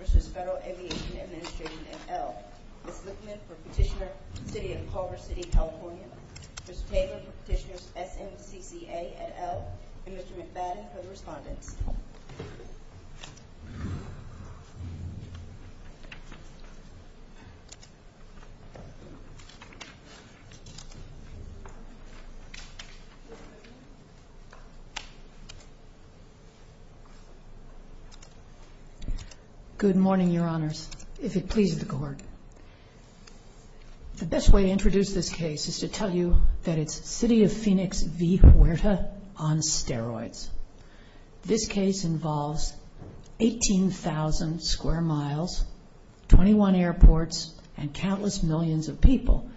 Petitioner v. FAA, Ms. Lippman for Petitioner, City of Culver City, California, Ms. Taylor for Petitioner, SMCCA, and Mr. McBadden for the respondents. Good morning, your honors. If it pleases the court, the best way to introduce this case is to tell you that it's City of Phoenix v. Huerta on steroids. This case involves 18,000 square miles, 21 airports, and countless millions of people.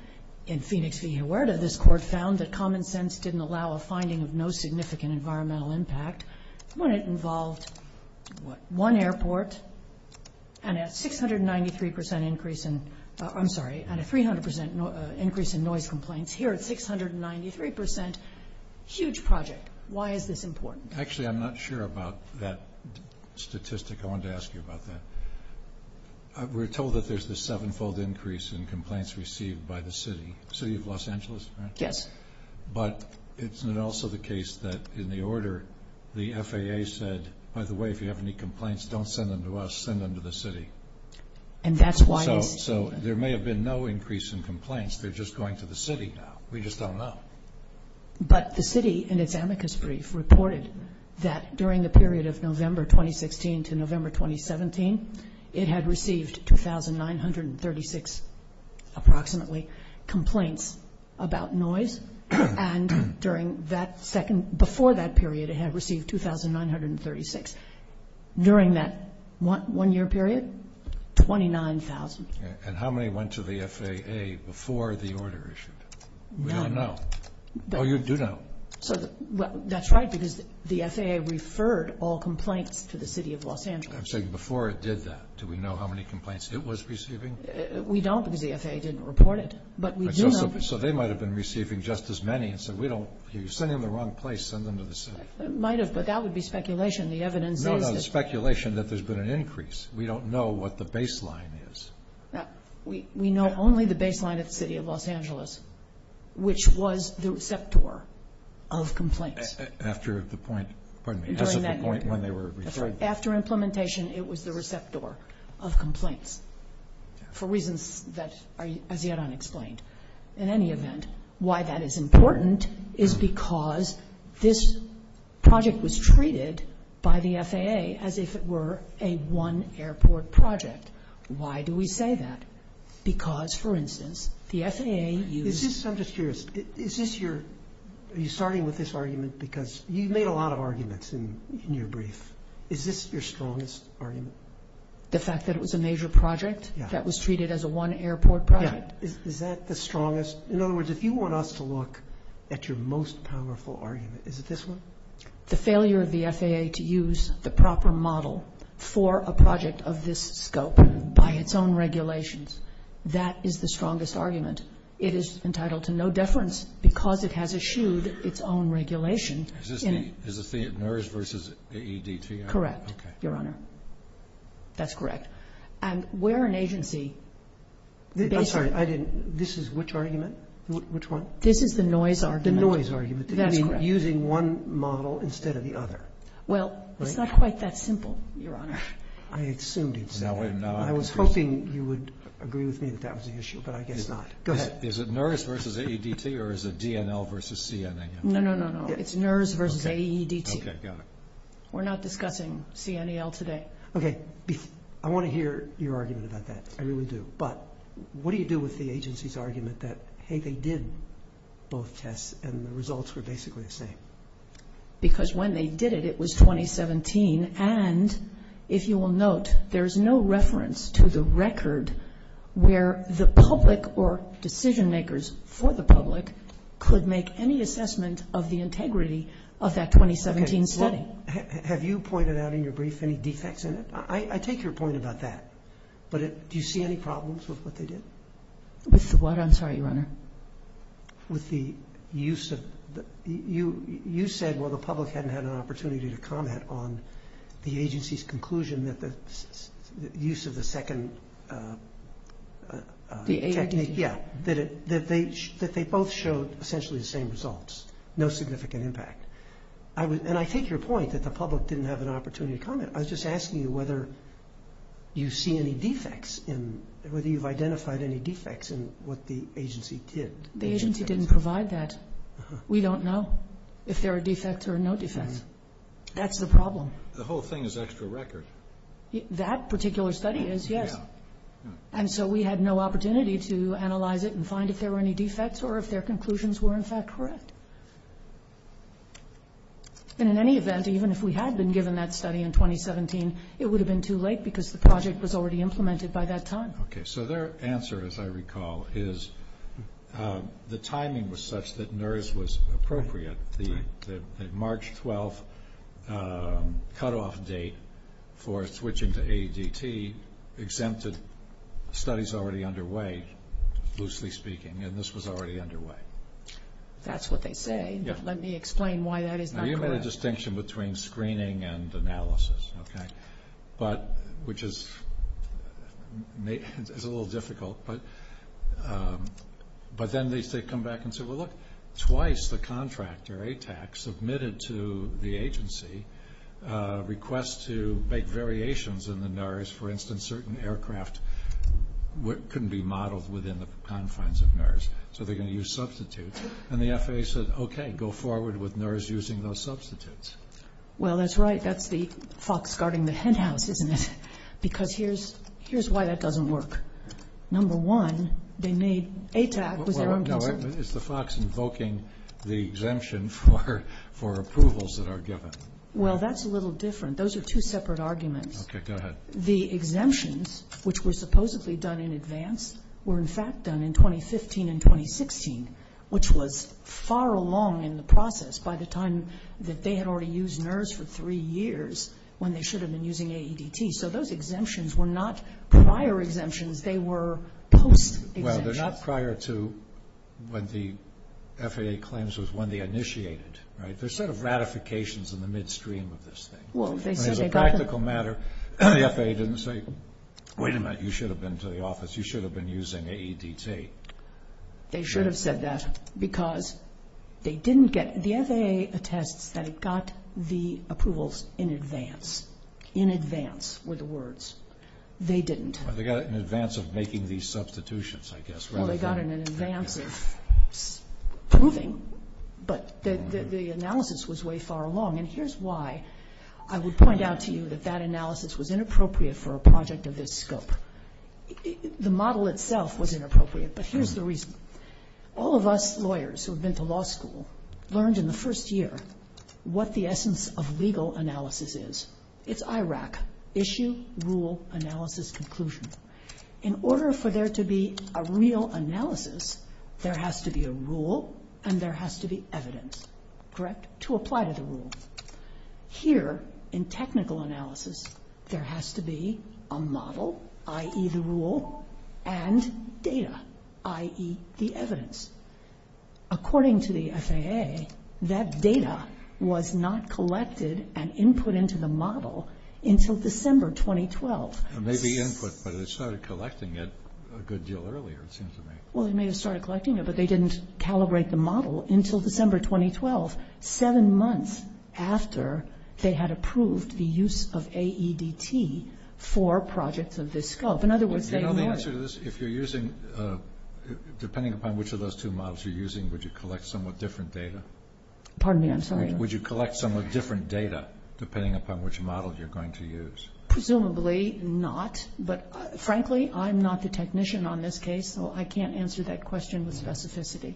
In Phoenix v. Huerta, this court found that common sense didn't allow a finding of no significant environmental impact when it involved one airport and a 693% increase in, I'm sorry, and a 300% increase in noise complaints. Here, it's 693%. Huge project. Why is this important? Actually, I'm not sure about that statistic. I wanted to ask you about that. We're told that there's this sevenfold increase in complaints received by the city. City of Los Angeles, right? Yes. But isn't it also the case that in the order, the FAA said, by the way, if you have any complaints, don't send them to us, send them to the city. And that's why it's... So there may have been no increase in complaints. They're just going to the city now. We just don't know. But the city, in its amicus brief, reported that during the period of November 2016 to November 2017, it had received 2,936, approximately, complaints about noise. And during that second, before that period, it had received 2,936. During that one-year period, 29,000. And how many went to the FAA before the order issued? We don't know. Oh, you do know. That's right, because the FAA referred all complaints to the city of Los Angeles. I'm saying before it did that, do we know how many complaints it was receiving? We don't, because the FAA didn't report it. But we do know... So they might have been receiving just as many and said, we don't... You're sending them to the wrong place, send them to the city. Might have, but that would be speculation. The evidence says that... No, no, it's speculation that there's been an increase. We don't know what the baseline is. We know only the baseline at the city of Los Angeles, which was the receptor of complaints. After the point, pardon me, just at the point when they were referred. After implementation, it was the receptor of complaints, for reasons that are as yet unexplained. In any event, why that is important is because this project was treated by the FAA as if it were a one airport project. Why do we say that? Because, for instance, the FAA used... I'm just curious, is this your... Are you starting with this argument because you've made a lot of arguments in your brief. Is this your strongest argument? The fact that it was a major project that was treated as a one airport project? Yeah. Is that the strongest? In other words, if you want us to look at your most powerful argument, is it this one? The failure of the FAA to use the proper model for a project of this scope by its own regulations, that is the strongest argument. It is entitled to no deference because it has eschewed its own regulation. Is this the NERS versus AEDT? Correct, Your Honor. That's correct. And where an agency... I'm sorry, I didn't understand. This is which argument? Which one? This is the noise argument. The noise argument. That's correct. Using one model instead of the other. Well, it's not quite that simple, Your Honor. I assumed it was. I was hoping you would agree with me that that was the issue, but I guess not. Go ahead. Is it NERS versus AEDT or is it DNL versus CNAL? No, no, no, no. It's NERS versus AEDT. Okay, got it. We're not discussing CNAL today. Okay, I want to hear your argument about that. I really do. But what do you do with the agency's argument that, hey, they did both tests and the results were basically the same? Because when they did it, it was 2017, and if you will note, there is no reference to the record where the public or decision makers for the public could make any assessment of the integrity of that 2017 study. Okay. Well, have you pointed out in your brief any defects in it? I take your point about that, but do you see any problems with what they did? With what? I'm sorry, Your Honor. With the use of... You said, well, the public hadn't had an opportunity to comment on the agency's conclusion that the use of the second... The AEDT. Yeah, that they both showed essentially the same results, no significant impact. And I take your point that the public didn't have an opportunity to comment. I was just asking you whether you see any defects in... Whether you've identified any defects in what the agency did. The agency didn't provide that. We don't know if there are defects or no defects. That's the problem. The whole thing is extra record. That particular study is, yes. And so we had no opportunity to analyze it and find if there were any defects or if their conclusions were in fact correct. And in any event, even if we had been given that study in 2017, it would have been too late because the project was already implemented by that time. Okay. So their answer, as I recall, is the timing was such that NERS was appropriate. The March 12th cutoff date for switching to AEDT exempted studies already underway, loosely speaking, and this was already underway. That's what they say. Let me explain why that is not correct. You made a distinction between screening and analysis, okay? Which is a little difficult. But then they come back and say, well look, twice the contractor, ATAC, submitted to the agency a request to make variations in the NERS. For instance, certain aircraft couldn't be modeled within the confines of NERS, so they're going to use substitutes. And the FAA said, okay, go forward with NERS using those substitutes. Well, that's right. That's the fox guarding the hen house, isn't it? Because here's why that doesn't work. Number one, they made ATAC was their own concern. Well, no. It's the fox invoking the exemption for approvals that are given. Well, that's a little different. Those are two separate arguments. Okay, go ahead. The exemptions, which were supposedly done in advance, were in fact done in 2015 and 2016, which was far along in the process by the time that they had already used NERS for three years when they should have been using AEDT. So those exemptions were not prior exemptions. They were post-exemptions. Well, they're not prior to when the FAA claims was when they initiated, right? They're sort of ratifications in the midstream of this thing. Well, if they say they got them... As a practical matter, the FAA didn't say, wait a minute, you should have been to the office. You should have been using AEDT. They should have said that because they didn't get... The FAA attests that it got the approvals in advance. In advance were the words. They didn't. They got it in advance of making these But the analysis was way far along, and here's why I would point out to you that that analysis was inappropriate for a project of this scope. The model itself was inappropriate, but here's the reason. All of us lawyers who have been to law school learned in the first year what the essence of legal analysis is. It's IRAC, issue, rule, analysis, conclusion. In order for there to be a real analysis, there has to be a rule, and there has to be evidence to apply to the rule. Here, in technical analysis, there has to be a model, i.e. the rule, and data, i.e. the evidence. According to the FAA, that data was not collected and input into the model until December 2012. It may be input, but they started collecting it a good deal earlier, it seems to me. Well, they may have started collecting it, but they didn't calibrate the model until December 2012, seven months after they had approved the use of AEDT for projects of this scope. In other words, they were... Do you know the answer to this? If you're using... Depending upon which of those two models you're using, would you collect somewhat different data? Pardon me, I'm sorry. Would you collect somewhat different data, depending upon which model you're going to use? Presumably not, but, frankly, I'm not the technician on this case, so I can't answer that question with specificity.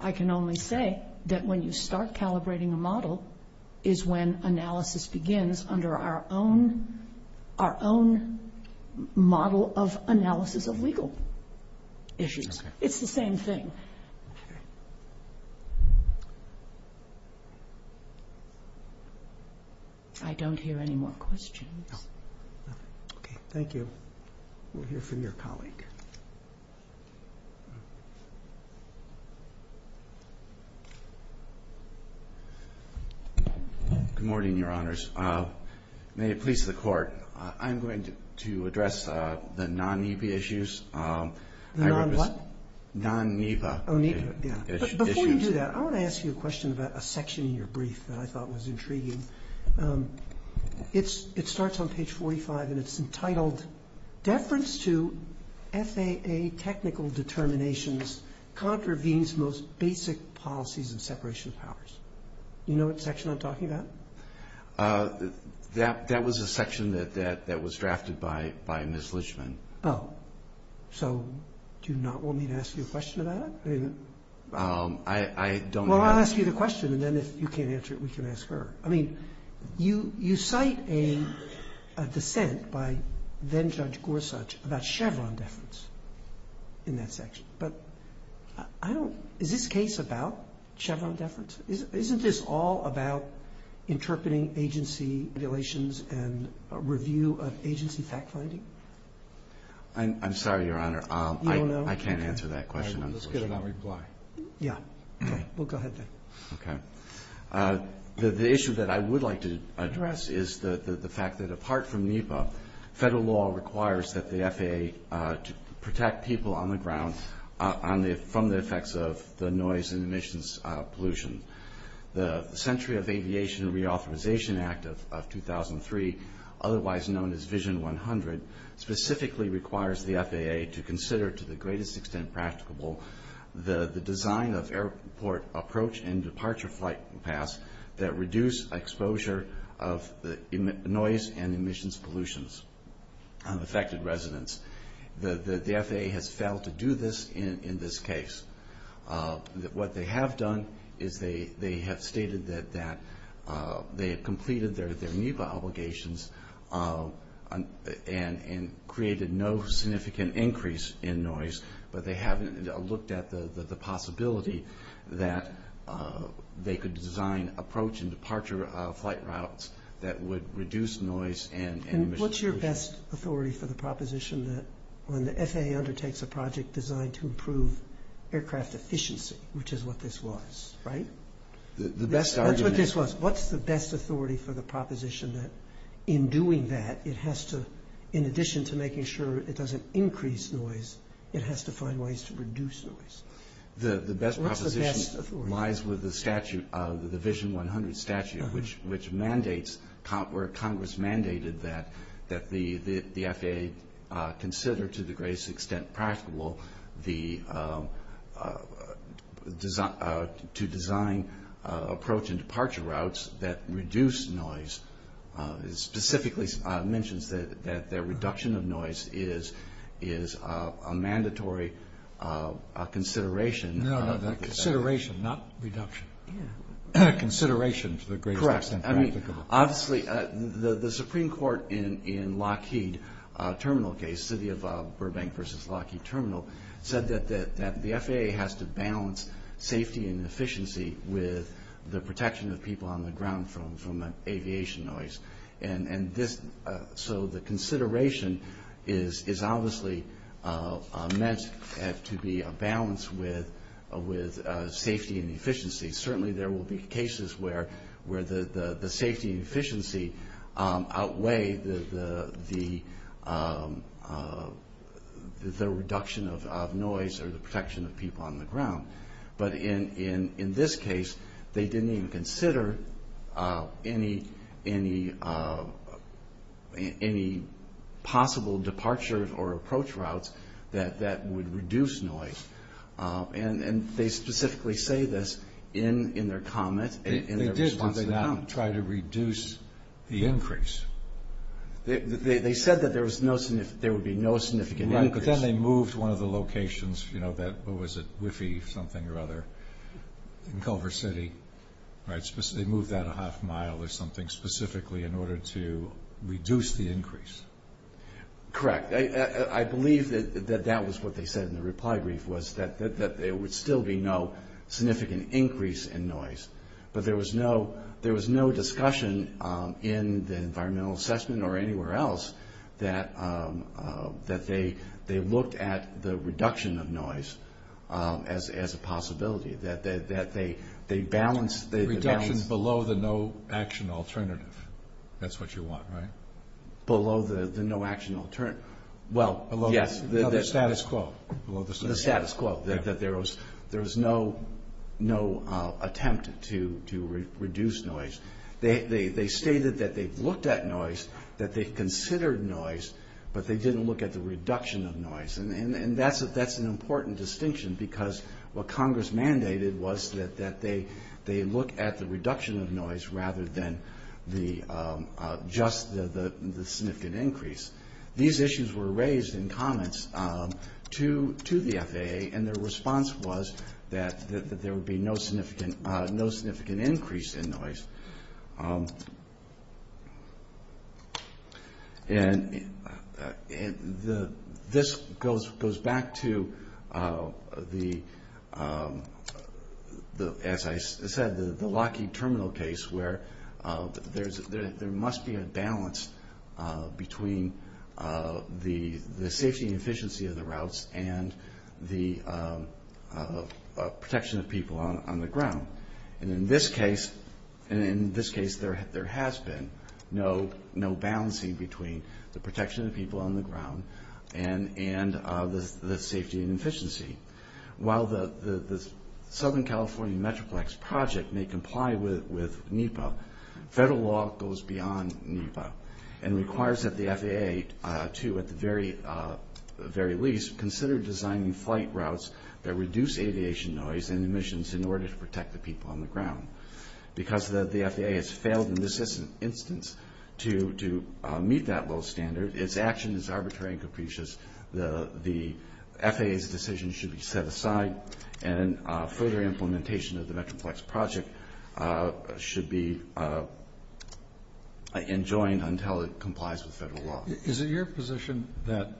I can only say that when you start calibrating a model is when analysis begins under our own model of analysis of legal issues. It's the same thing. I don't hear any more questions. Thank you. We'll hear from your colleague. Good morning, Your Honors. May it please the Court, I'm going to address the non-EPA issues. The non-what? Non-EPA issues. Before you do that, I want to ask you a question about a section in your brief that I thought was intriguing. It starts on page 45, and it's entitled, Deference to FAA Technical Determinations Contravenes Most Basic Policies and Separation of Powers. Do you know what section I'm talking about? That was a section that was drafted by Ms. Lichman. Oh. So do you not want me to ask you a question about it? I don't know. Well, I'll ask you the question, and then if you can't answer it, we can ask her. I mean, you cite a dissent by then-Judge Gorsuch about Chevron deference in that section, but is this case about Chevron deference? Isn't this all about interpreting agency regulations and review of agency fact-finding? I'm sorry, Your Honor. I can't answer that question. You don't know? Okay. Let's get another reply. Yeah. Okay. We'll go ahead then. Okay. The issue that I would like to address is the fact that apart from NEPA, federal law requires that the FAA protect people on the ground from the effects of the noise and emissions pollutions of affected residents. The FAA has failed to do this in this case. What they have done is they have stated that they have completed their NEPA obligations and created no significant increase in noise, but they haven't looked at the possibility that they could design approach and departure flight routes that would reduce noise and emissions pollution. And what's your best authority for the proposition that when the FAA undertakes a project designed to improve aircraft efficiency, which is what this was, right? The best argument... That's what this was. What's the best authority for the proposition that in doing that, it has to, in addition to making sure it doesn't increase noise, it has to find ways to reduce noise? The best proposition... What's the best authority? ...lies with the statute, the Division 100 statute, which mandates, where Congress mandated that the FAA consider to the greatest extent practicable to design approach and departure routes that reduce noise, specifically mentions that their reduction of noise is a mandatory consideration... No, no, that consideration, not reduction. Consideration to the greatest extent practicable. Obviously, the Supreme Court in Lockheed Terminal case, City of Burbank versus Lockheed Terminal, said that the FAA has to balance safety and efficiency with the protection of people on the ground from aviation noise. So the consideration is obviously meant to be a balance with safety and efficiency. Certainly, there will be cases where the safety and efficiency outweigh the reduction of noise or the protection of people on the ground. But in this case, they didn't even consider any possible departure or approach routes that would reduce noise. And they specifically say this in their comment, in their response to the comment. They did, did they not try to reduce the increase? They said that there would be no significant increase. Right, but then they moved one of the locations, you know, that, what was it, Whiffy, something or other, in Culver City, right? They moved that a half mile or something specifically in order to reduce the increase. Correct. I believe that that was what they said in the reply brief, was that there would still be no significant increase in noise. But there was no discussion in the environmental assessment or anywhere else that they looked at the reduction of noise as a possibility, that they balanced... Reduction below the no action alternative. That's what you want, right? Below the no action alternative. Well, yes. The status quo. The status quo, that there was no attempt to reduce noise. They stated that they looked at noise, that they considered noise, but they didn't look at the reduction of noise. And that's an important distinction because what Congress mandated was that they look at the reduction of noise rather than just the significant increase. These issues were raised in comments to the FAA and their response was that there would be no significant increase in noise. This goes back to, as I said, the Lockheed Terminal case where there must be a balance between the safety and efficiency of the routes and the protection of people on the ground. And in this case, there has been no balancing between the protection of people on the ground and the safety and efficiency. While the Southern California Metroplex Project may comply with NEPA, federal law goes beyond NEPA and requires that the FAA to, at the very least, consider designing flight routes that reduce aviation noise and emissions in order to protect the people on the ground. Because the FAA has failed in this instance to meet that low standard, its action is arbitrary and capricious. The FAA's decision should be set aside and further implementation of the Metroplex Project should be enjoined until it complies with federal law. Is it your position that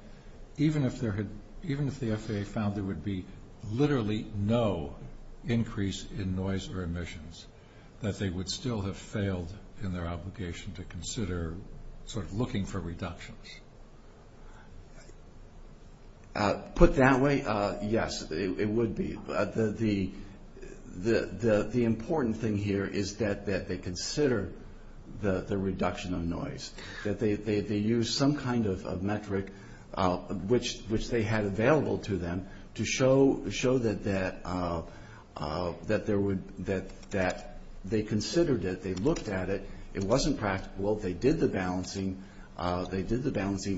even if the FAA found there would be literally no increase in noise or emissions, that they would still have failed in their obligation to consider looking for reductions? Put that way, yes, it would be. The important thing here is that they consider the reduction of noise, that they use some kind of metric which they had available to them to show that they considered it, they looked at it, it wasn't practical, they did the balancing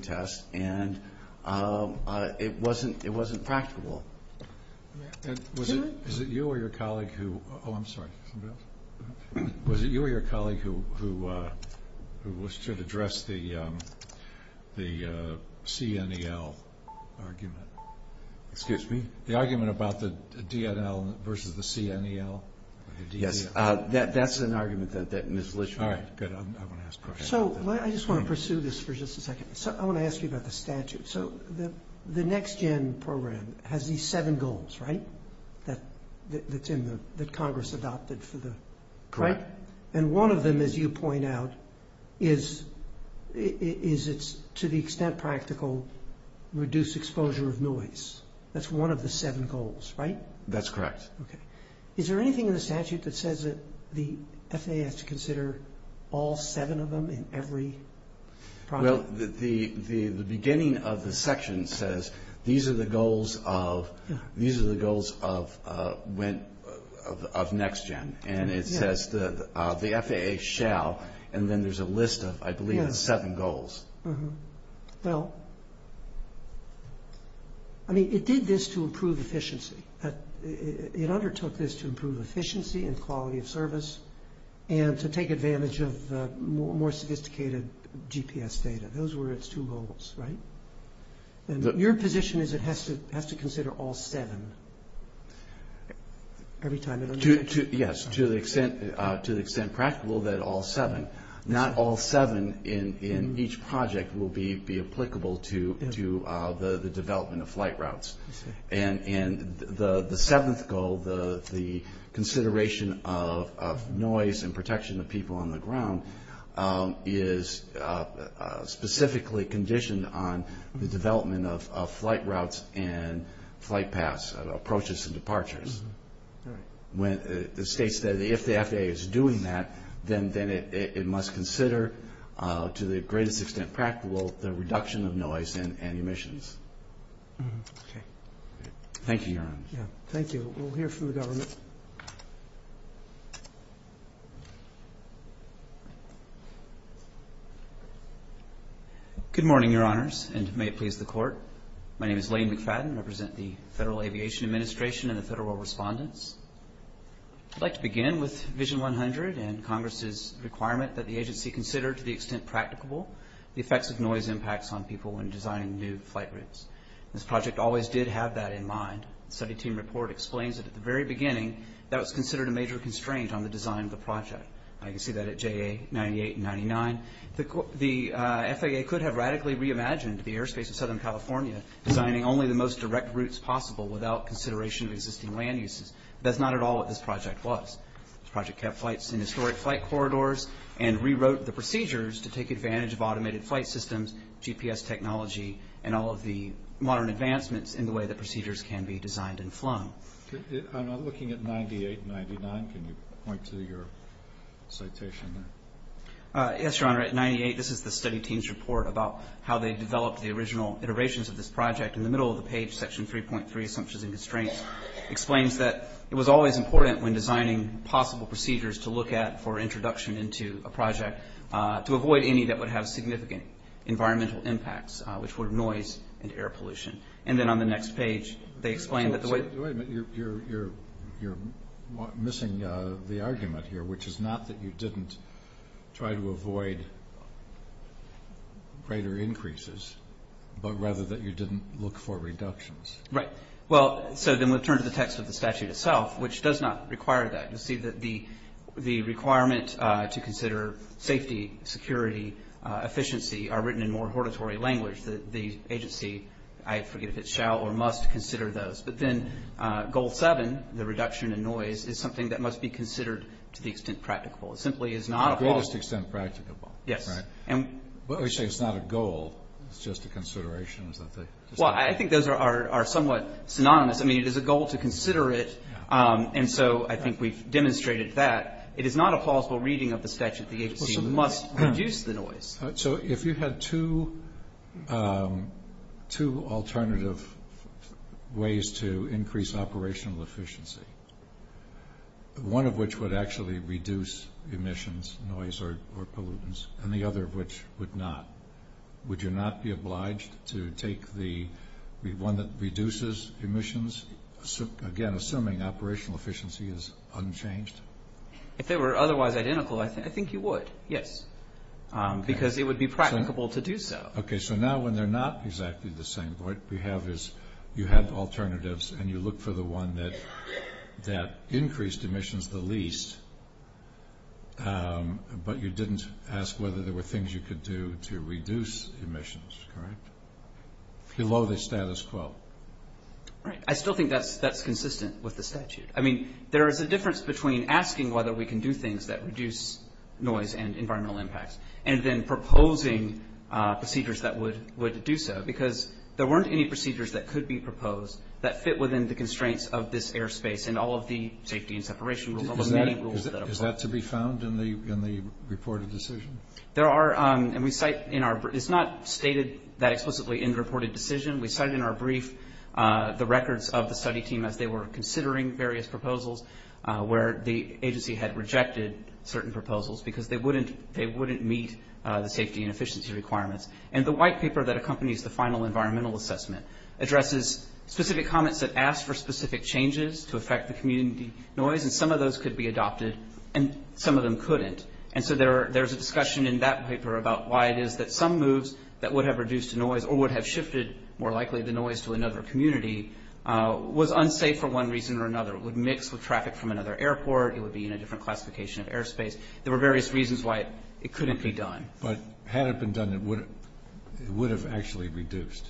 test, and it wasn't practical. Was it you or your colleague who should address the CNEL argument? Excuse me? The argument about the DNL versus the CNEL. Yes, that's an argument that Ms. Litchfield... So, I just want to pursue this for just a second. I want to ask you about the statute. So, the NextGen program has these seven goals, right, that Congress adopted for the... Correct. And one of them, as you point out, is to the extent practical, reduce exposure of noise. That's one of the seven goals, right? That's correct. Okay. Is there anything in the statute that says that the FAA has to consider all seven of them in every project? Well, the beginning of the section says these are the goals of NextGen, and it says the FAA shall, and then there's a list of, I believe, seven goals. Well, I mean, it did this to improve efficiency. It undertook this to improve efficiency and quality of service and to take advantage of more sophisticated GPS data. Those were its two goals, right? Your position is it has to consider all seven every time it... Yes, to the extent practical that all seven, not all seven in each project will be applicable to the development of flight routes. And the seventh goal, the consideration of noise and protection of people on the ground, is specifically conditioned on the development of flight routes and flight paths, approaches and departures. It states that if the FAA is doing that, then it must consider, to the greatest extent practical, the reduction of noise and emissions. Okay. Thank you, Your Honor. Yeah, thank you. We'll hear from the government. Good morning, Your Honors, and may it please the Court. My name is Lane McFadden. I represent the Federal Aviation Administration and the Federal Respondents. I'd like to begin with Vision 100 and Congress's requirement that the agency consider, to the extent practicable, the effects of noise impacts on people when designing new flight routes. This project always did have that in mind. The study team report explains that at the very beginning, that was considered a major constraint on the design of the project. I can see that at JA 98 and 99. The FAA could have radically reimagined the airspace of Southern California, designing only the most direct routes possible without consideration of existing land uses. That's not at all what this project was. This project kept flights in historic flight corridors and rewrote the procedures to take advantage of automated flight systems, GPS technology, and all of the modern advancements in the way that procedures can be designed and flown. I'm looking at 98 and 99. Can you point to your citation there? Yes, Your Honor. At 98, this is the study team's report about how they developed the original iterations of this project. In the middle of the page, Section 3.3, Assumptions and Constraints, explains that it was always important when designing possible procedures to look at for introduction into a project, to avoid any that would have significant environmental impacts, which were noise and air pollution. And then on the next page, they explain that the way... Wait a minute. You're missing the argument here, which is not that you didn't try to avoid greater increases, but rather that you didn't look for reductions. Right. Well, so then we'll turn to the text of the statute itself, which does not require that. You'll see that the requirement to consider safety, security, efficiency are written in more hortatory language. The agency, I forget if it shall or must consider those. But then Goal 7, the reduction in noise, is something that must be considered to the extent practicable. It simply is not at all... To the greatest extent practicable. Yes. Right. But we say it's not a goal. It's just a consideration, isn't it? Well, I think those are somewhat synonymous. I mean, it is a goal to consider it, and so I think we've demonstrated that. It is not a plausible reading of the statute. The agency must reduce the noise. So if you had two alternative ways to increase operational efficiency, one of which would actually reduce emissions, noise, or pollutants, and the other of which would not, would you not be obliged to take the one that reduces emissions? Again, assuming operational efficiency is unchanged? If they were otherwise identical, I think you would, yes. Because it would be practicable to do so. Okay, so now when they're not exactly the same, what we have is you have alternatives and you look for the one that increased emissions the least, but you didn't ask whether there were things you could do to reduce emissions, correct? Below the status quo. Right. I still think that's consistent with the statute. I mean, there is a difference between asking whether we can do things that reduce noise and environmental impacts and then proposing procedures that would do so, because there weren't any procedures that could be proposed that fit within the constraints of this airspace and all of the safety and separation rules, all the many rules that apply. Is that to be found in the reported decision? There are, and we cite in our, it's not stated that explicitly in the reported decision. We cite in our brief the records of the study team as they were considering various proposals where the agency had rejected certain proposals because they wouldn't meet the safety and efficiency requirements. And the white paper that accompanies the final environmental assessment addresses specific comments that ask for specific changes to affect the community noise, and some of those could be adopted and some of them couldn't. And so there's a discussion in that paper about why it is that some moves that would have reduced noise or would have shifted, more likely, the noise to another community was unsafe for one reason or another. It would mix with traffic from another airport. It would be in a different classification of airspace. There were various reasons why it couldn't be done. But had it been done, it would have actually reduced.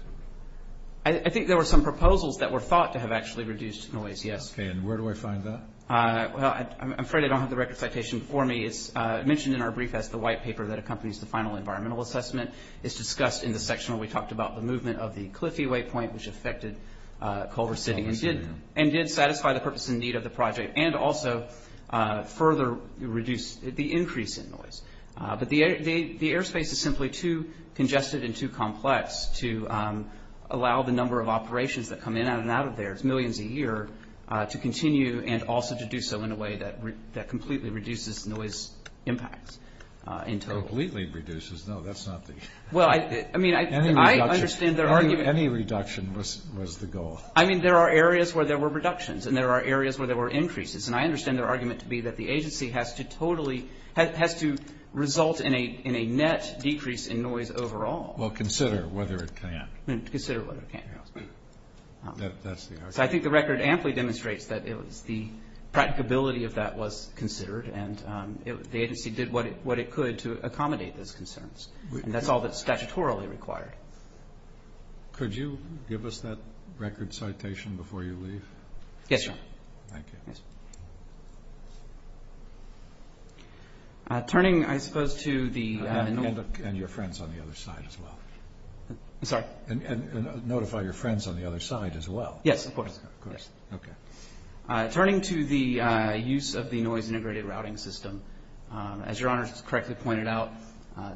I think there were some proposals that were thought to have actually reduced noise, yes. Okay. And where do I find that? I'm afraid I don't have the record citation for me. It's mentioned in our brief as the white paper that accompanies the final environmental assessment. It's discussed in the section where we talked about the movement of the Cliffey Waypoint, which affected Culver City and did satisfy the purpose and need of the project and also further reduce the increase in noise. But the airspace is simply too congested and too complex to allow the number of operations that come in and out of there, it's millions a year, to continue and also to do so in a way that completely reduces noise impacts in total. Completely reduces? No, that's not the... Well, I mean, I understand their argument. Any reduction was the goal. I mean, there are areas where there were reductions and there are areas where there were increases. And I understand their argument to be that the agency has to totally, has to result in a net decrease in noise overall. Well, consider whether it can. Consider whether it can. That's the argument. So I think the record amply demonstrates that it was the practicability of that was considered and the agency did what it could to accommodate those concerns. And that's all that's statutorily required. Could you give us that record citation before you leave? Yes, Your Honor. Thank you. Turning, I suppose, to the... And your friends on the other side as well. I'm sorry? And notify your friends on the other side as well. Yes, of course. Okay. Turning to the use of the noise integrated routing system, as Your Honor correctly pointed out,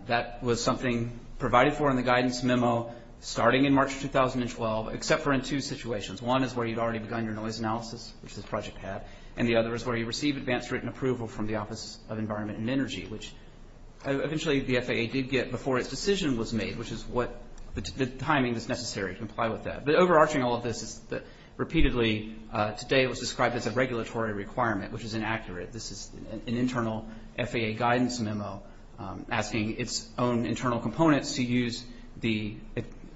that was something provided for in the guidance memo starting in March 2012, except for in two situations. One is where you've already begun your noise analysis, which this project had, and the other is where you receive advanced written approval from the Office of Environment and Energy, which eventually the FAA did get before its decision was made, which is what the timing that's necessary to comply with that. But overarching all of this is that, repeatedly, today it was described as a regulatory requirement, which is inaccurate. This is an internal FAA guidance memo asking its own internal components to use the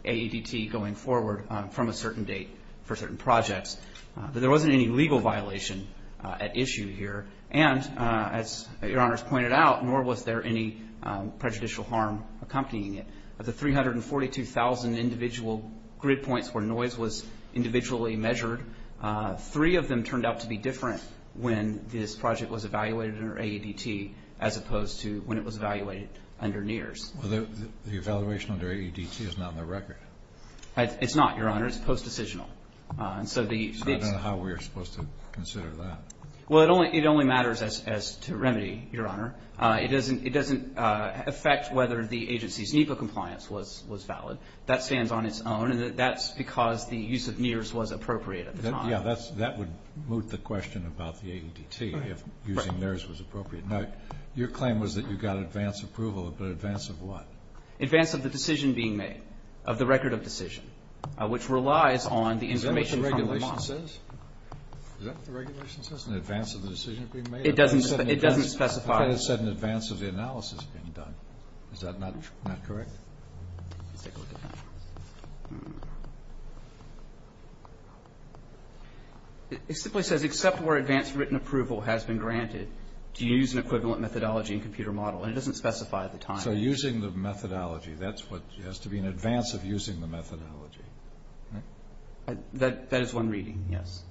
AEDT going forward from a certain date for certain projects. But there wasn't any legal violation at issue here, and as Your Honor has pointed out, nor was there any prejudicial harm accompanying it. Of the 342,000 individual grid points where noise was individually measured, three of them turned out to be different when this project was evaluated under AEDT as opposed to when it was evaluated under NEARS. The evaluation under AEDT is not on the record. It's not, Your Honor. It's post-decisional. So I don't know how we are supposed to consider that. Well, it only matters as to remedy, Your Honor. It doesn't affect whether the agency's NEPA compliance was valid. That stands on its own, and that's because the use of NEARS was appropriate at the time. Yeah. That would moot the question about the AEDT, if using theirs was appropriate. Right. Now, your claim was that you got advance approval, but advance of what? Advance of the decision being made, of the record of decision, which relies on the information from the model. Is that what the regulation says? Is that what the regulation says, an advance of the decision being made? It doesn't specify. I thought it said an advance of the analysis being done. Is that not correct? Let's take a look at that. It simply says, except where advance written approval has been granted, do you use an equivalent methodology and computer model, and it doesn't specify the time. So using the methodology, that's what has to be in advance of using the methodology. That is one reading, yes.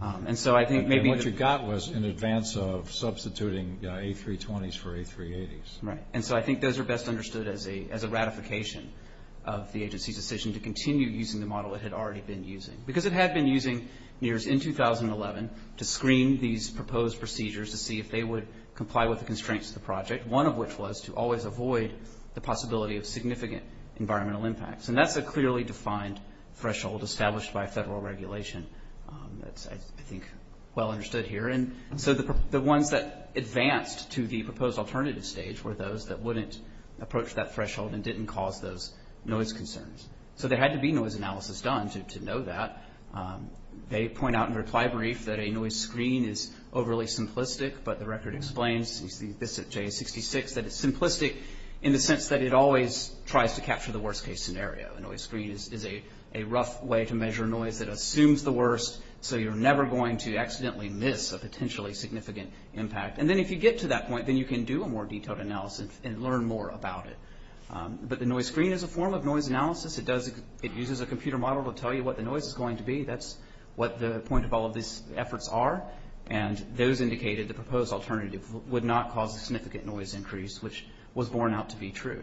And so I think maybe. And what you got was an advance of substituting A320s for A380s. Right. And so I think those are best understood as a ratification of the agency's decision to continue using the model it had already been using. Because it had been using NEARS in 2011 to screen these proposed procedures to see if they would comply with the constraints of the project, one of which was to always avoid the possibility of significant environmental impacts. And that's a clearly defined threshold established by federal regulation that's, I think, well understood here. And so the ones that advanced to the proposed alternative stage were those that wouldn't approach that threshold and didn't cause those noise concerns. So there had to be noise analysis done to know that. They point out in their reply brief that a noise screen is overly simplistic, but the record explains, you see this at J66, that it's simplistic in the sense that it always tries to capture the worst-case scenario. A noise screen is a rough way to measure noise that assumes the worst, so you're never going to accidentally miss a potentially significant impact. And then if you get to that point, then you can do a more detailed analysis and learn more about it. But the noise screen is a form of noise analysis. It uses a computer model to tell you what the noise is going to be. That's what the point of all of these efforts are. And those indicated the proposed alternative would not cause a significant noise increase, which was borne out to be true.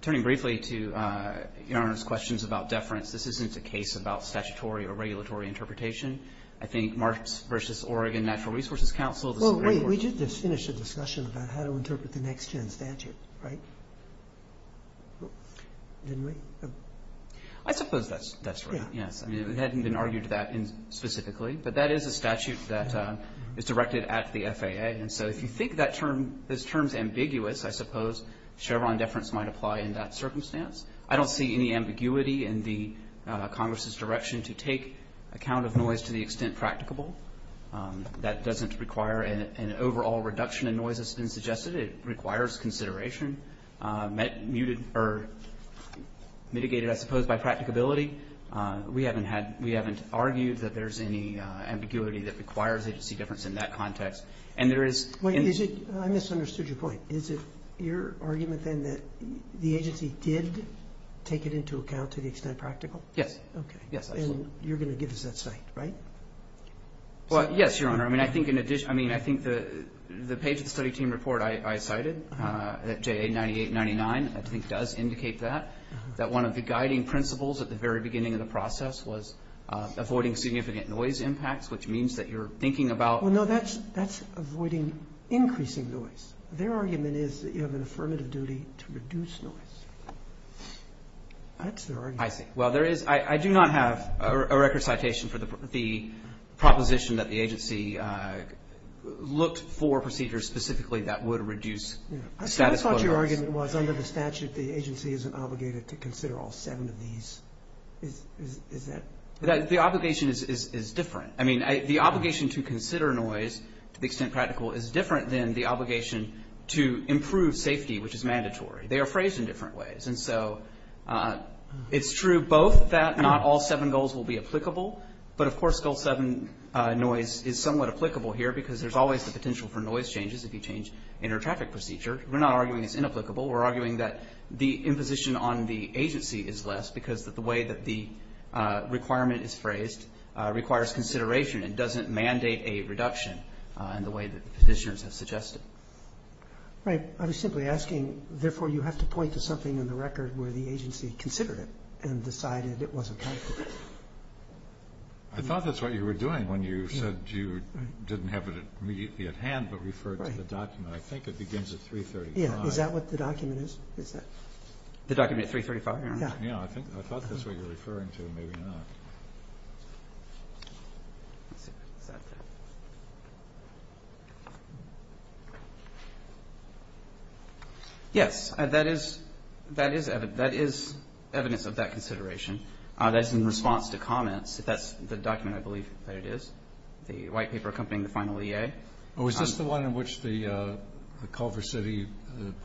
Turning briefly to Your Honor's questions about deference, this isn't a case about statutory or regulatory interpretation. I think Marks v. Oregon Natural Resources Council. Well, wait, we did just finish a discussion about how to interpret the next-gen statute, right? Didn't we? I suppose that's right, yes. I mean, it hadn't been argued to that specifically, but that is a statute that is directed at the FAA. And so if you think this term is ambiguous, I suppose Chevron deference might apply in that circumstance. I don't see any ambiguity in Congress's direction to take account of noise to the extent practicable. That doesn't require an overall reduction in noise, as has been suggested. It requires consideration. Mitigated, I suppose, by practicability. We haven't argued that there's any ambiguity that requires agency difference in that context. I misunderstood your point. Is it your argument, then, that the agency did take it into account to the extent practical? Yes. Okay. And you're going to give us that cite, right? Well, yes, Your Honor. I mean, I think in addition, I mean, I think the page of the study team report I cited, JA 9899, I think does indicate that, that one of the guiding principles at the very beginning of the process was avoiding significant noise impacts, which means that you're thinking about Well, no, that's avoiding increasing noise. Their argument is that you have an affirmative duty to reduce noise. That's their argument. I see. proposition that the agency looked for procedures specifically that would reduce status quo noise. I thought your argument was under the statute the agency isn't obligated to consider all seven of these. Is that? The obligation is different. I mean, the obligation to consider noise, to the extent practical, is different than the obligation to improve safety, which is mandatory. They are phrased in different ways. And so it's true both that not all seven goals will be applicable, but of course goal seven noise is somewhat applicable here because there's always the potential for noise changes if you change inter-traffic procedure. We're not arguing it's inapplicable. We're arguing that the imposition on the agency is less because the way that the requirement is phrased requires consideration and doesn't mandate a reduction in the way that petitioners have suggested. Right. I was simply asking, therefore, you have to point to something in the record where the agency considered it and decided it wasn't applicable. I thought that's what you were doing when you said you didn't have it immediately at hand but referred to the document. I think it begins at 335. Yeah. Is that what the document is? The document at 335? Yeah. I thought that's what you were referring to. Maybe not. Yes. That is evidence of that consideration. That's in response to comments. That's the document, I believe, that it is, the white paper accompanying the final EA. Oh, is this the one in which the Culver City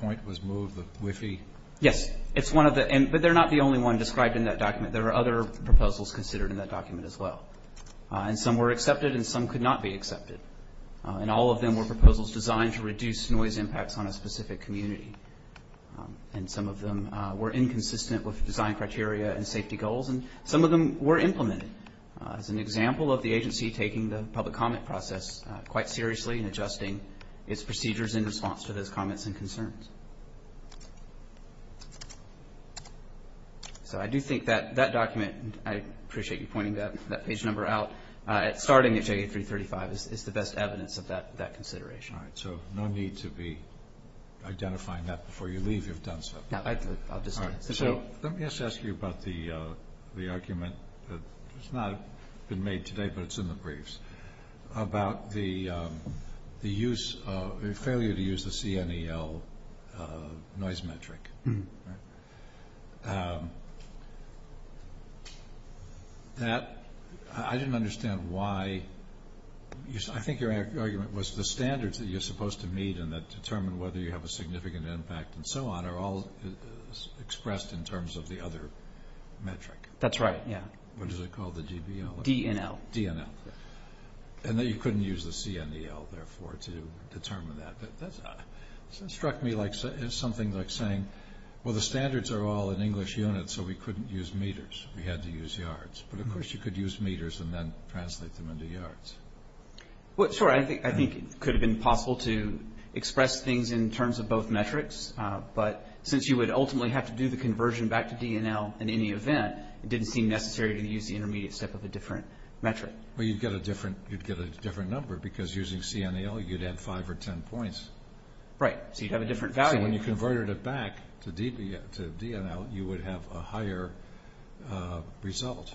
point was moved, the WIFI? Yes. It's one of the end. But they're not the only one described in that document. There are other proposals considered in that document as well. And some were accepted and some could not be accepted. And all of them were proposals designed to reduce noise impacts on a specific community. And some of them were inconsistent with design criteria and safety goals. And some of them were implemented as an example of the agency taking the public comment process quite seriously and adjusting its procedures in response to those comments and concerns. So I do think that that document, I appreciate you pointing that page number out, starting at J8335 is the best evidence of that consideration. All right. So no need to be identifying that before you leave if you've done so. No. I'll just say it. So let me just ask you about the argument that has not been made today, but it's in the briefs, about the failure to use the CNEL noise metric. That, I didn't understand why, I think your argument was the standards that you're supposed to meet and that determine whether you have a significant impact and so on are all expressed in terms of the other metric. That's right, yeah. What is it called, the DBL? DNL. DNL. And that you couldn't use the CNEL, therefore, to determine that. That struck me as something like saying, well, the standards are all in English units, so we couldn't use meters. We had to use yards. But, of course, you could use meters and then translate them into yards. Well, sure, I think it could have been possible to express things in terms of both metrics, but since you would ultimately have to do the conversion back to DNL in any event, it didn't seem necessary to use the intermediate step of a different metric. Well, you'd get a different number because using CNEL, you'd add five or ten points. Right, so you'd have a different value. So when you converted it back to DNL, you would have a higher result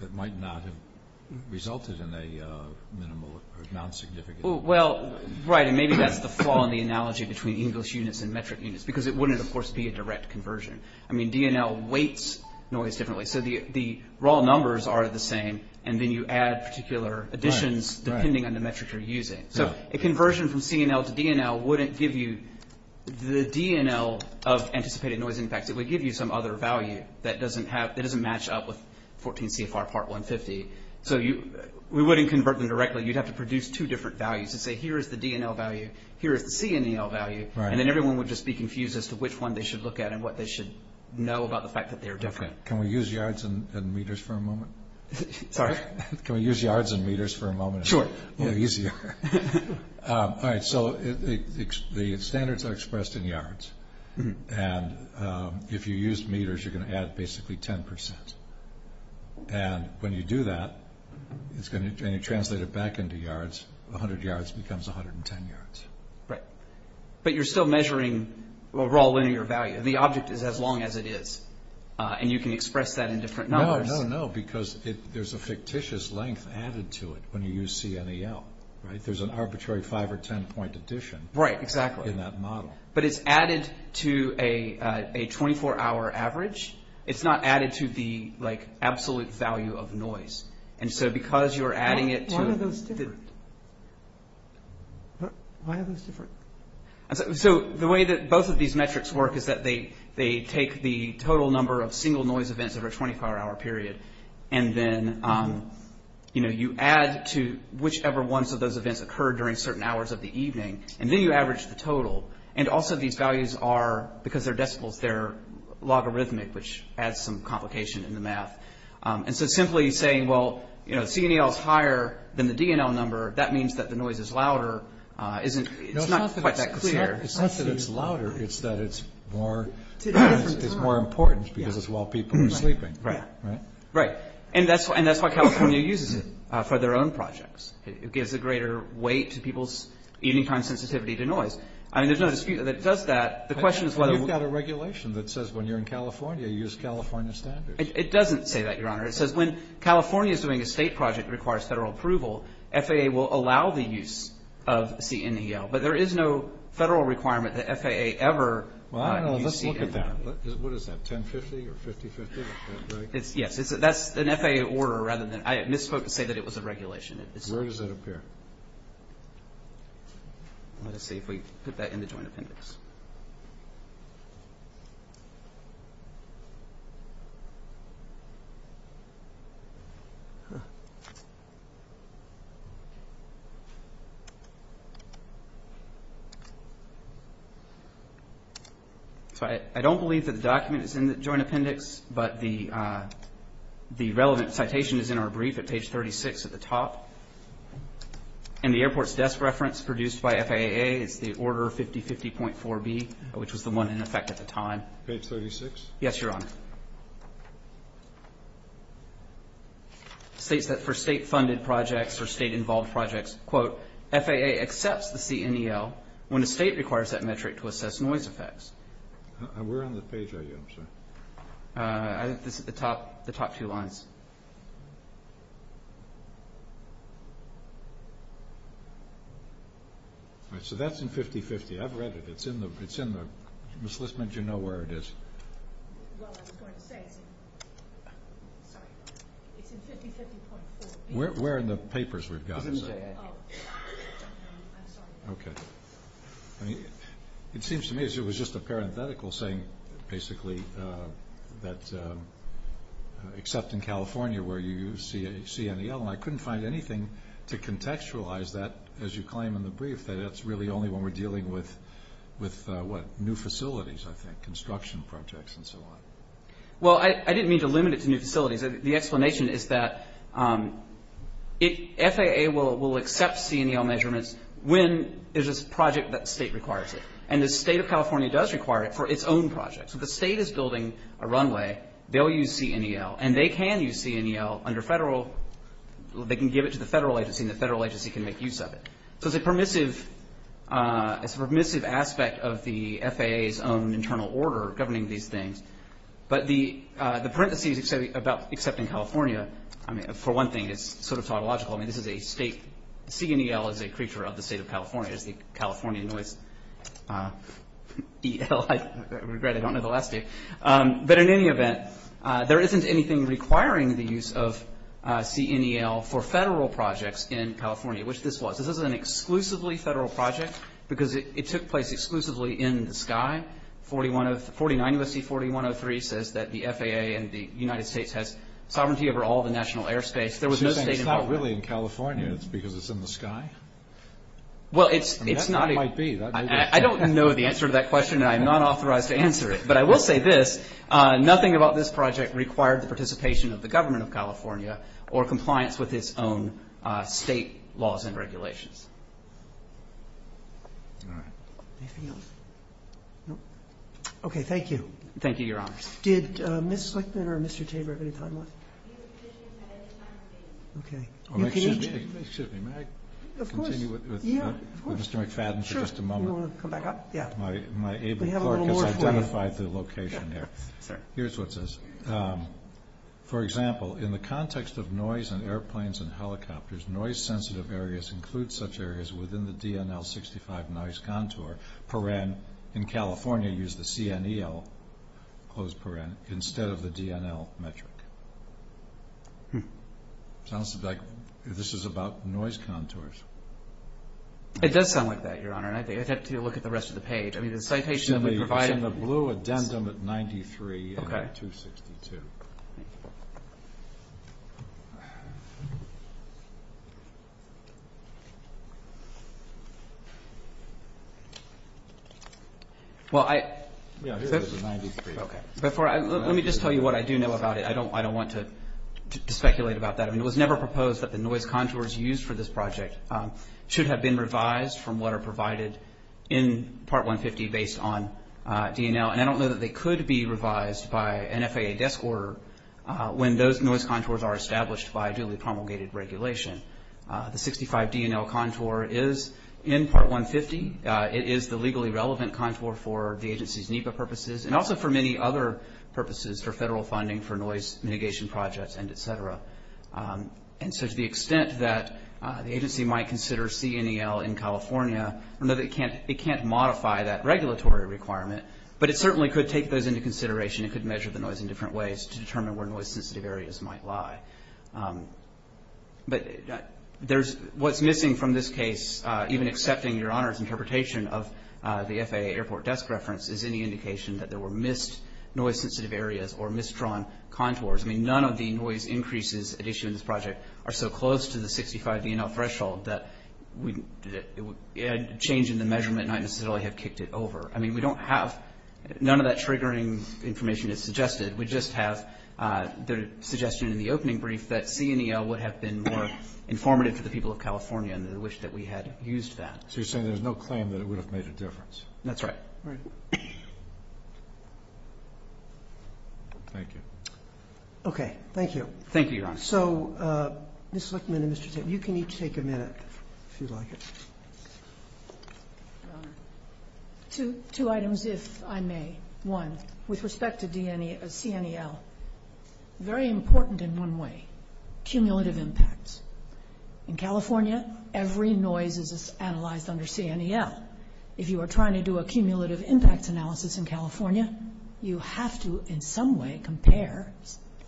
that might not have resulted in a minimal or non-significant impact. Well, right, and maybe that's the flaw in the analogy between English units and metric units because it wouldn't, of course, be a direct conversion. I mean, DNL weights noise differently. So the raw numbers are the same, and then you add particular additions depending on the metric you're using. So a conversion from CNL to DNL wouldn't give you the DNL of anticipated noise impacts. It would give you some other value that doesn't match up with 14 CFR Part 150. So we wouldn't convert them directly. You'd have to produce two different values and say, here is the DNL value, here is the CNEL value, and then everyone would just be confused as to which one they should look at and what they should know about the fact that they are different. Can we use yards and meters for a moment? Sorry? Can we use yards and meters for a moment? Sure. It's a little easier. All right, so the standards are expressed in yards. And if you use meters, you're going to add basically 10%. And when you do that, and you translate it back into yards, 100 yards becomes 110 yards. Right. But you're still measuring raw linear value. The object is as long as it is. And you can express that in different numbers. No, no, no, because there's a fictitious length added to it when you use CNEL, right? There's an arbitrary 5 or 10-point addition in that model. Right, exactly. But it's added to a 24-hour average. It's not added to the, like, absolute value of noise. And so because you're adding it to the- Why are those different? Why are those different? So the way that both of these metrics work is that they take the total number of single noise events over a 24-hour period, and then, you know, you add to whichever ones of those events occurred during certain hours of the evening, and then you average the total. And also these values are, because they're decibels, they're logarithmic, which adds some complication in the math. And so simply saying, well, you know, CNEL is higher than the DNL number, that means that the noise is louder. It's not quite that clear. It's not that it's louder. It's that it's more important because it's while people are sleeping. Right. Right. And that's why California uses it for their own projects. It gives a greater weight to people's evening time sensitivity to noise. I mean, there's no dispute that it does that. The question is whether- You've got a regulation that says when you're in California, you use California standards. It doesn't say that, Your Honor. It says when California is doing a state project that requires federal approval, FAA will allow the use of CNEL. But there is no federal requirement that FAA ever use CNEL. Well, I don't know. Let's look at that. What is that, 1050 or 5050? Yes, that's an FAA order rather than-I misspoke to say that it was a regulation. Where does it appear? Let's see if we put that in the joint appendix. So I don't believe that the document is in the joint appendix, but the relevant citation is in our brief at page 36 at the top. And the airport's desk reference produced by FAA is the order 5050.4B, which was the one in effect at the time. Page 36? Yes, Your Honor. It states that for state-funded projects or state-involved projects, quote, FAA accepts the CNEL when a state requires that metric to assess noise effects. Where on the page are you, I'm sorry? The top two lines. All right, so that's in 5050. I've read it. It's in the-Ms. Listman, do you know where it is? Well, I was going to say it's in-sorry, Your Honor. It's in 5050.4B. Where in the papers we've got it? It's in J.A. Okay. I mean, it seems to me as if it was just a parenthetical saying basically that except in California where you use CNEL, I couldn't find anything to contextualize that as you claim in the brief, that that's really only when we're dealing with, what, new facilities, I think, construction projects and so on. Well, I didn't mean to limit it to new facilities. The explanation is that FAA will accept CNEL measurements when there's a project that the state requires it. And the state of California does require it for its own projects. If the state is building a runway, they'll use CNEL. And they can use CNEL under federal-they can give it to the federal agency, and the federal agency can make use of it. So it's a permissive aspect of the FAA's own internal order governing these things. But the parentheses about except in California, I mean, for one thing, it's sort of tautological. I mean, this is a state-CNEL is a creature of the state of California. It's the California noise EL. I regret I don't know the last name. But in any event, there isn't anything requiring the use of CNEL for federal projects in California, which this was. This was an exclusively federal project because it took place exclusively in the sky, 49 U.S.C. 4103 says that the FAA and the United States has sovereignty over all the national airspace. There was no state involvement. So you're saying it's not really in California. It's because it's in the sky? Well, it's not. I mean, that's what it might be. I don't know the answer to that question, and I am not authorized to answer it. But I will say this. Nothing about this project required the participation of the government of California or compliance with its own state laws and regulations. All right. Anything else? No. Okay. Thank you. Thank you, Your Honor. Did Ms. Slickman or Mr. Tabor have any time left? Excuse me. May I continue with Mr. McFadden for just a moment? You want to come back up? Yeah. My able clerk has identified the location here. Here's what it says. For example, in the context of noise in airplanes and helicopters, noise-sensitive areas include such areas within the DNL-65 noise contour, in California you use the CNEL instead of the DNL metric. It sounds like this is about noise contours. It does sound like that, Your Honor, and I'd have to look at the rest of the page. Excuse me. It's in the blue addendum at 93 and 262. Okay. Thank you. Yeah, here it is at 93. Let me just tell you what I do know about it. I don't want to speculate about that. I mean, it was never proposed that the noise contours used for this project should have been revised from what are provided in Part 150 based on DNL, and I don't know that they could be revised by an FAA desk order when those noise contours are established by duly promulgated regulation. The 65 DNL contour is in Part 150. It is the legally relevant contour for the agency's NEPA purposes, and also for many other purposes for federal funding for noise mitigation projects and et cetera. And so to the extent that the agency might consider CNEL in California, we know that it can't modify that regulatory requirement, but it certainly could take those into consideration. It could measure the noise in different ways to determine where noise-sensitive areas might lie. But what's missing from this case, even accepting Your Honor's interpretation of the FAA airport desk reference, is any indication that there were missed noise-sensitive areas or misdrawn contours. I mean, none of the noise increases at issue in this project are so close to the 65 DNL threshold that a change in the measurement might not necessarily have kicked it over. I mean, we don't have ñ none of that triggering information is suggested. We just have the suggestion in the opening brief that CNEL would have been more informative to the people of California and they wish that we had used that. So you're saying there's no claim that it would have made a difference? That's right. All right. Thank you. Okay, thank you. Thank you, Your Honor. So, Ms. Lichtman and Mr. Tate, you can each take a minute if you like. Two items, if I may. One, with respect to CNEL, very important in one way, cumulative impacts. In California, every noise is analyzed under CNEL. If you are trying to do a cumulative impact analysis in California, you have to in some way compare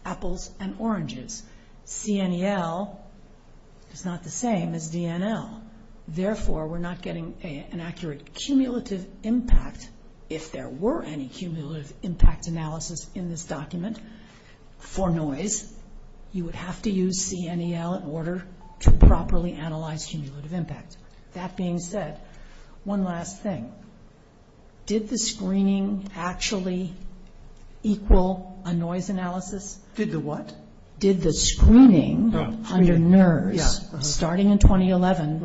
apples and oranges. CNEL is not the same as DNL. Therefore, we're not getting an accurate cumulative impact. If there were any cumulative impact analysis in this document for noise, you would have to use CNEL in order to properly analyze cumulative impact. That being said, one last thing. Did the screening actually equal a noise analysis? Did the what? Did the screening under NERS, starting in 2011,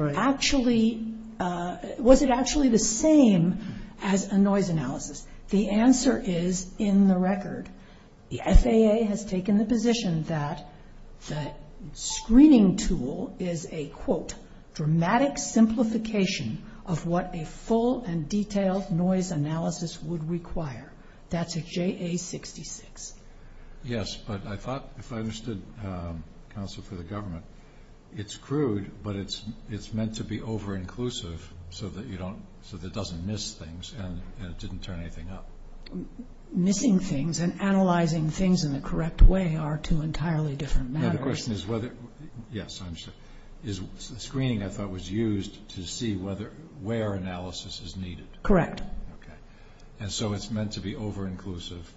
was it actually the same as a noise analysis? The answer is in the record. The FAA has taken the position that the screening tool is a, quote, dramatic simplification of what a full and detailed noise analysis would require. That's a JA-66. Yes, but I thought if I understood, counsel for the government, it's crude, but it's meant to be over-inclusive so that it doesn't miss things and it didn't turn anything up. Missing things and analyzing things in the correct way are two entirely different matters. The question is whether, yes, I understand. Is the screening I thought was used to see where analysis is needed? Correct. Okay. And so it's meant to be over-inclusive?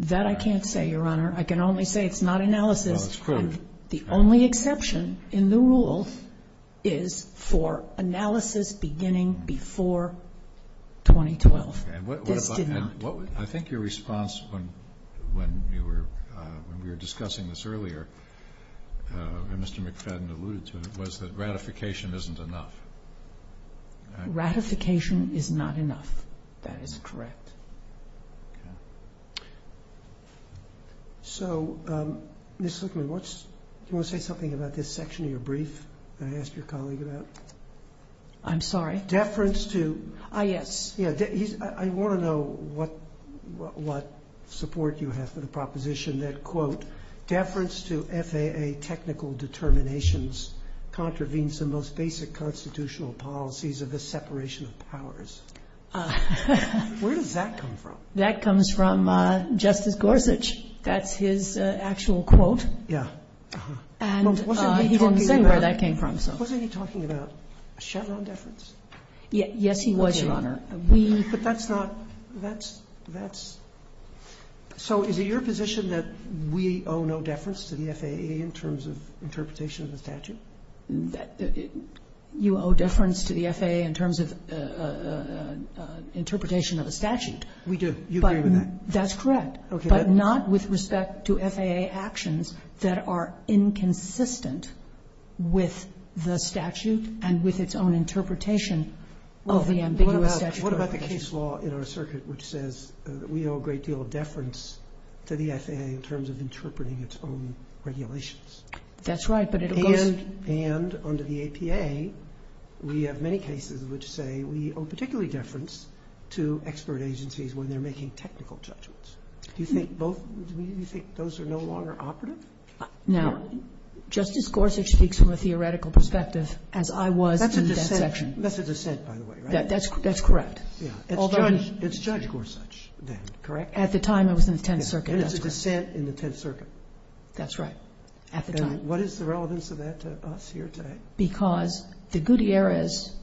That I can't say, Your Honor. I can only say it's not analysis. Well, it's crude. The only exception in the rule is for analysis beginning before 2012. This did not. I think your response when we were discussing this earlier, and Mr. McFadden alluded to it, was that ratification isn't enough. Ratification is not enough. That is correct. Okay. So, Ms. Zuckerman, do you want to say something about this section of your brief that I asked your colleague about? I'm sorry? Deference to? Ah, yes. I want to know what support you have for the proposition that, quote, deference to FAA technical determinations contravenes the most basic constitutional policies of the separation of powers. Where does that come from? That comes from Justice Gorsuch. That's his actual quote. Yeah. And he didn't say where that came from. Yes, he was, Your Honor. But that's not – that's – that's – so is it your position that we owe no deference to the FAA in terms of interpretation of the statute? You owe deference to the FAA in terms of interpretation of a statute. We do. You agree with that? That's correct. Okay. But not with respect to FAA actions that are inconsistent with the statute and with its own interpretation of the ambiguous statutory provisions. What about the case law in our circuit which says that we owe a great deal of deference to the FAA in terms of interpreting its own regulations? That's right, but it goes – And under the APA, we have many cases which say we owe particularly deference to expert agencies when they're making technical judgments. Do you think both – do you think those are no longer operative? Now, Justice Gorsuch speaks from a theoretical perspective, as I was in that section. That's a dissent. That's a dissent, by the way, right? That's correct. Yeah. It's Judge Gorsuch then, correct? At the time I was in the Tenth Circuit, that's correct. And it's a dissent in the Tenth Circuit. That's right. At the time. And what is the relevance of that to us here today? Because the Gutierrez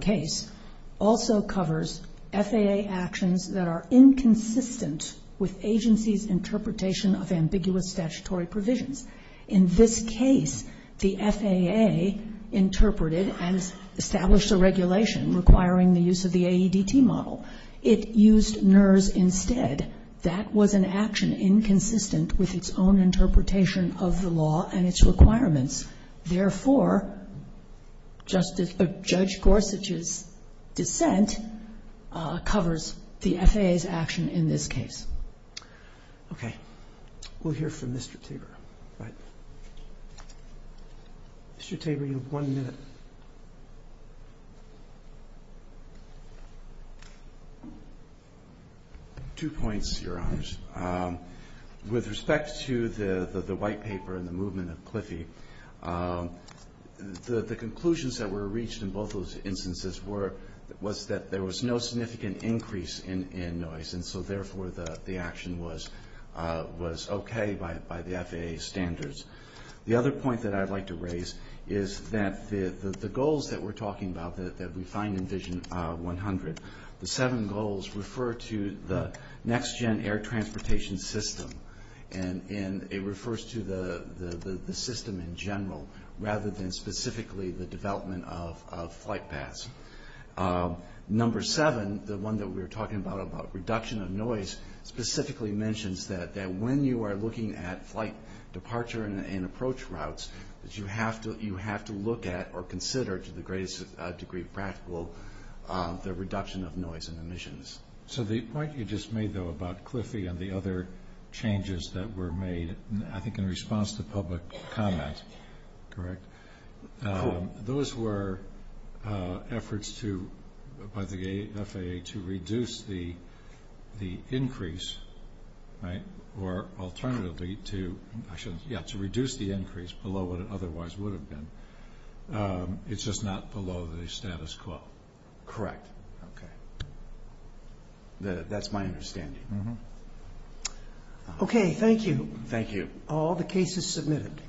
case also covers FAA actions that are inconsistent with agencies' interpretation of ambiguous statutory provisions. In this case, the FAA interpreted and established a regulation requiring the use of the AEDT model. It used NERS instead. That was an action inconsistent with its own interpretation of the law and its requirements. Therefore, Judge Gorsuch's dissent covers the FAA's action in this case. Okay. We'll hear from Mr. Tabor. Mr. Tabor, you have one minute. Two points, Your Honors. With respect to the white paper and the movement of Cliffie, the conclusions that were reached in both of those instances was that there was no significant increase in noise. And so, therefore, the action was okay by the FAA standards. The other point that I'd like to raise is that the goals that we're talking about that we find in Vision 100, the seven goals refer to the next-gen air transportation system. And it refers to the system in general rather than specifically the development of flight paths. Number seven, the one that we were talking about, about reduction of noise, specifically mentions that when you are looking at flight departure and approach routes, that you have to look at or consider to the greatest degree of practical the reduction of noise and emissions. So the point you just made, though, about Cliffie and the other changes that were made, I think in response to public comment, correct? Those were efforts by the FAA to reduce the increase, right? Or alternatively to reduce the increase below what it otherwise would have been. It's just not below the status quo. Correct. Okay. That's my understanding. Okay, thank you. Thank you. All the cases submitted.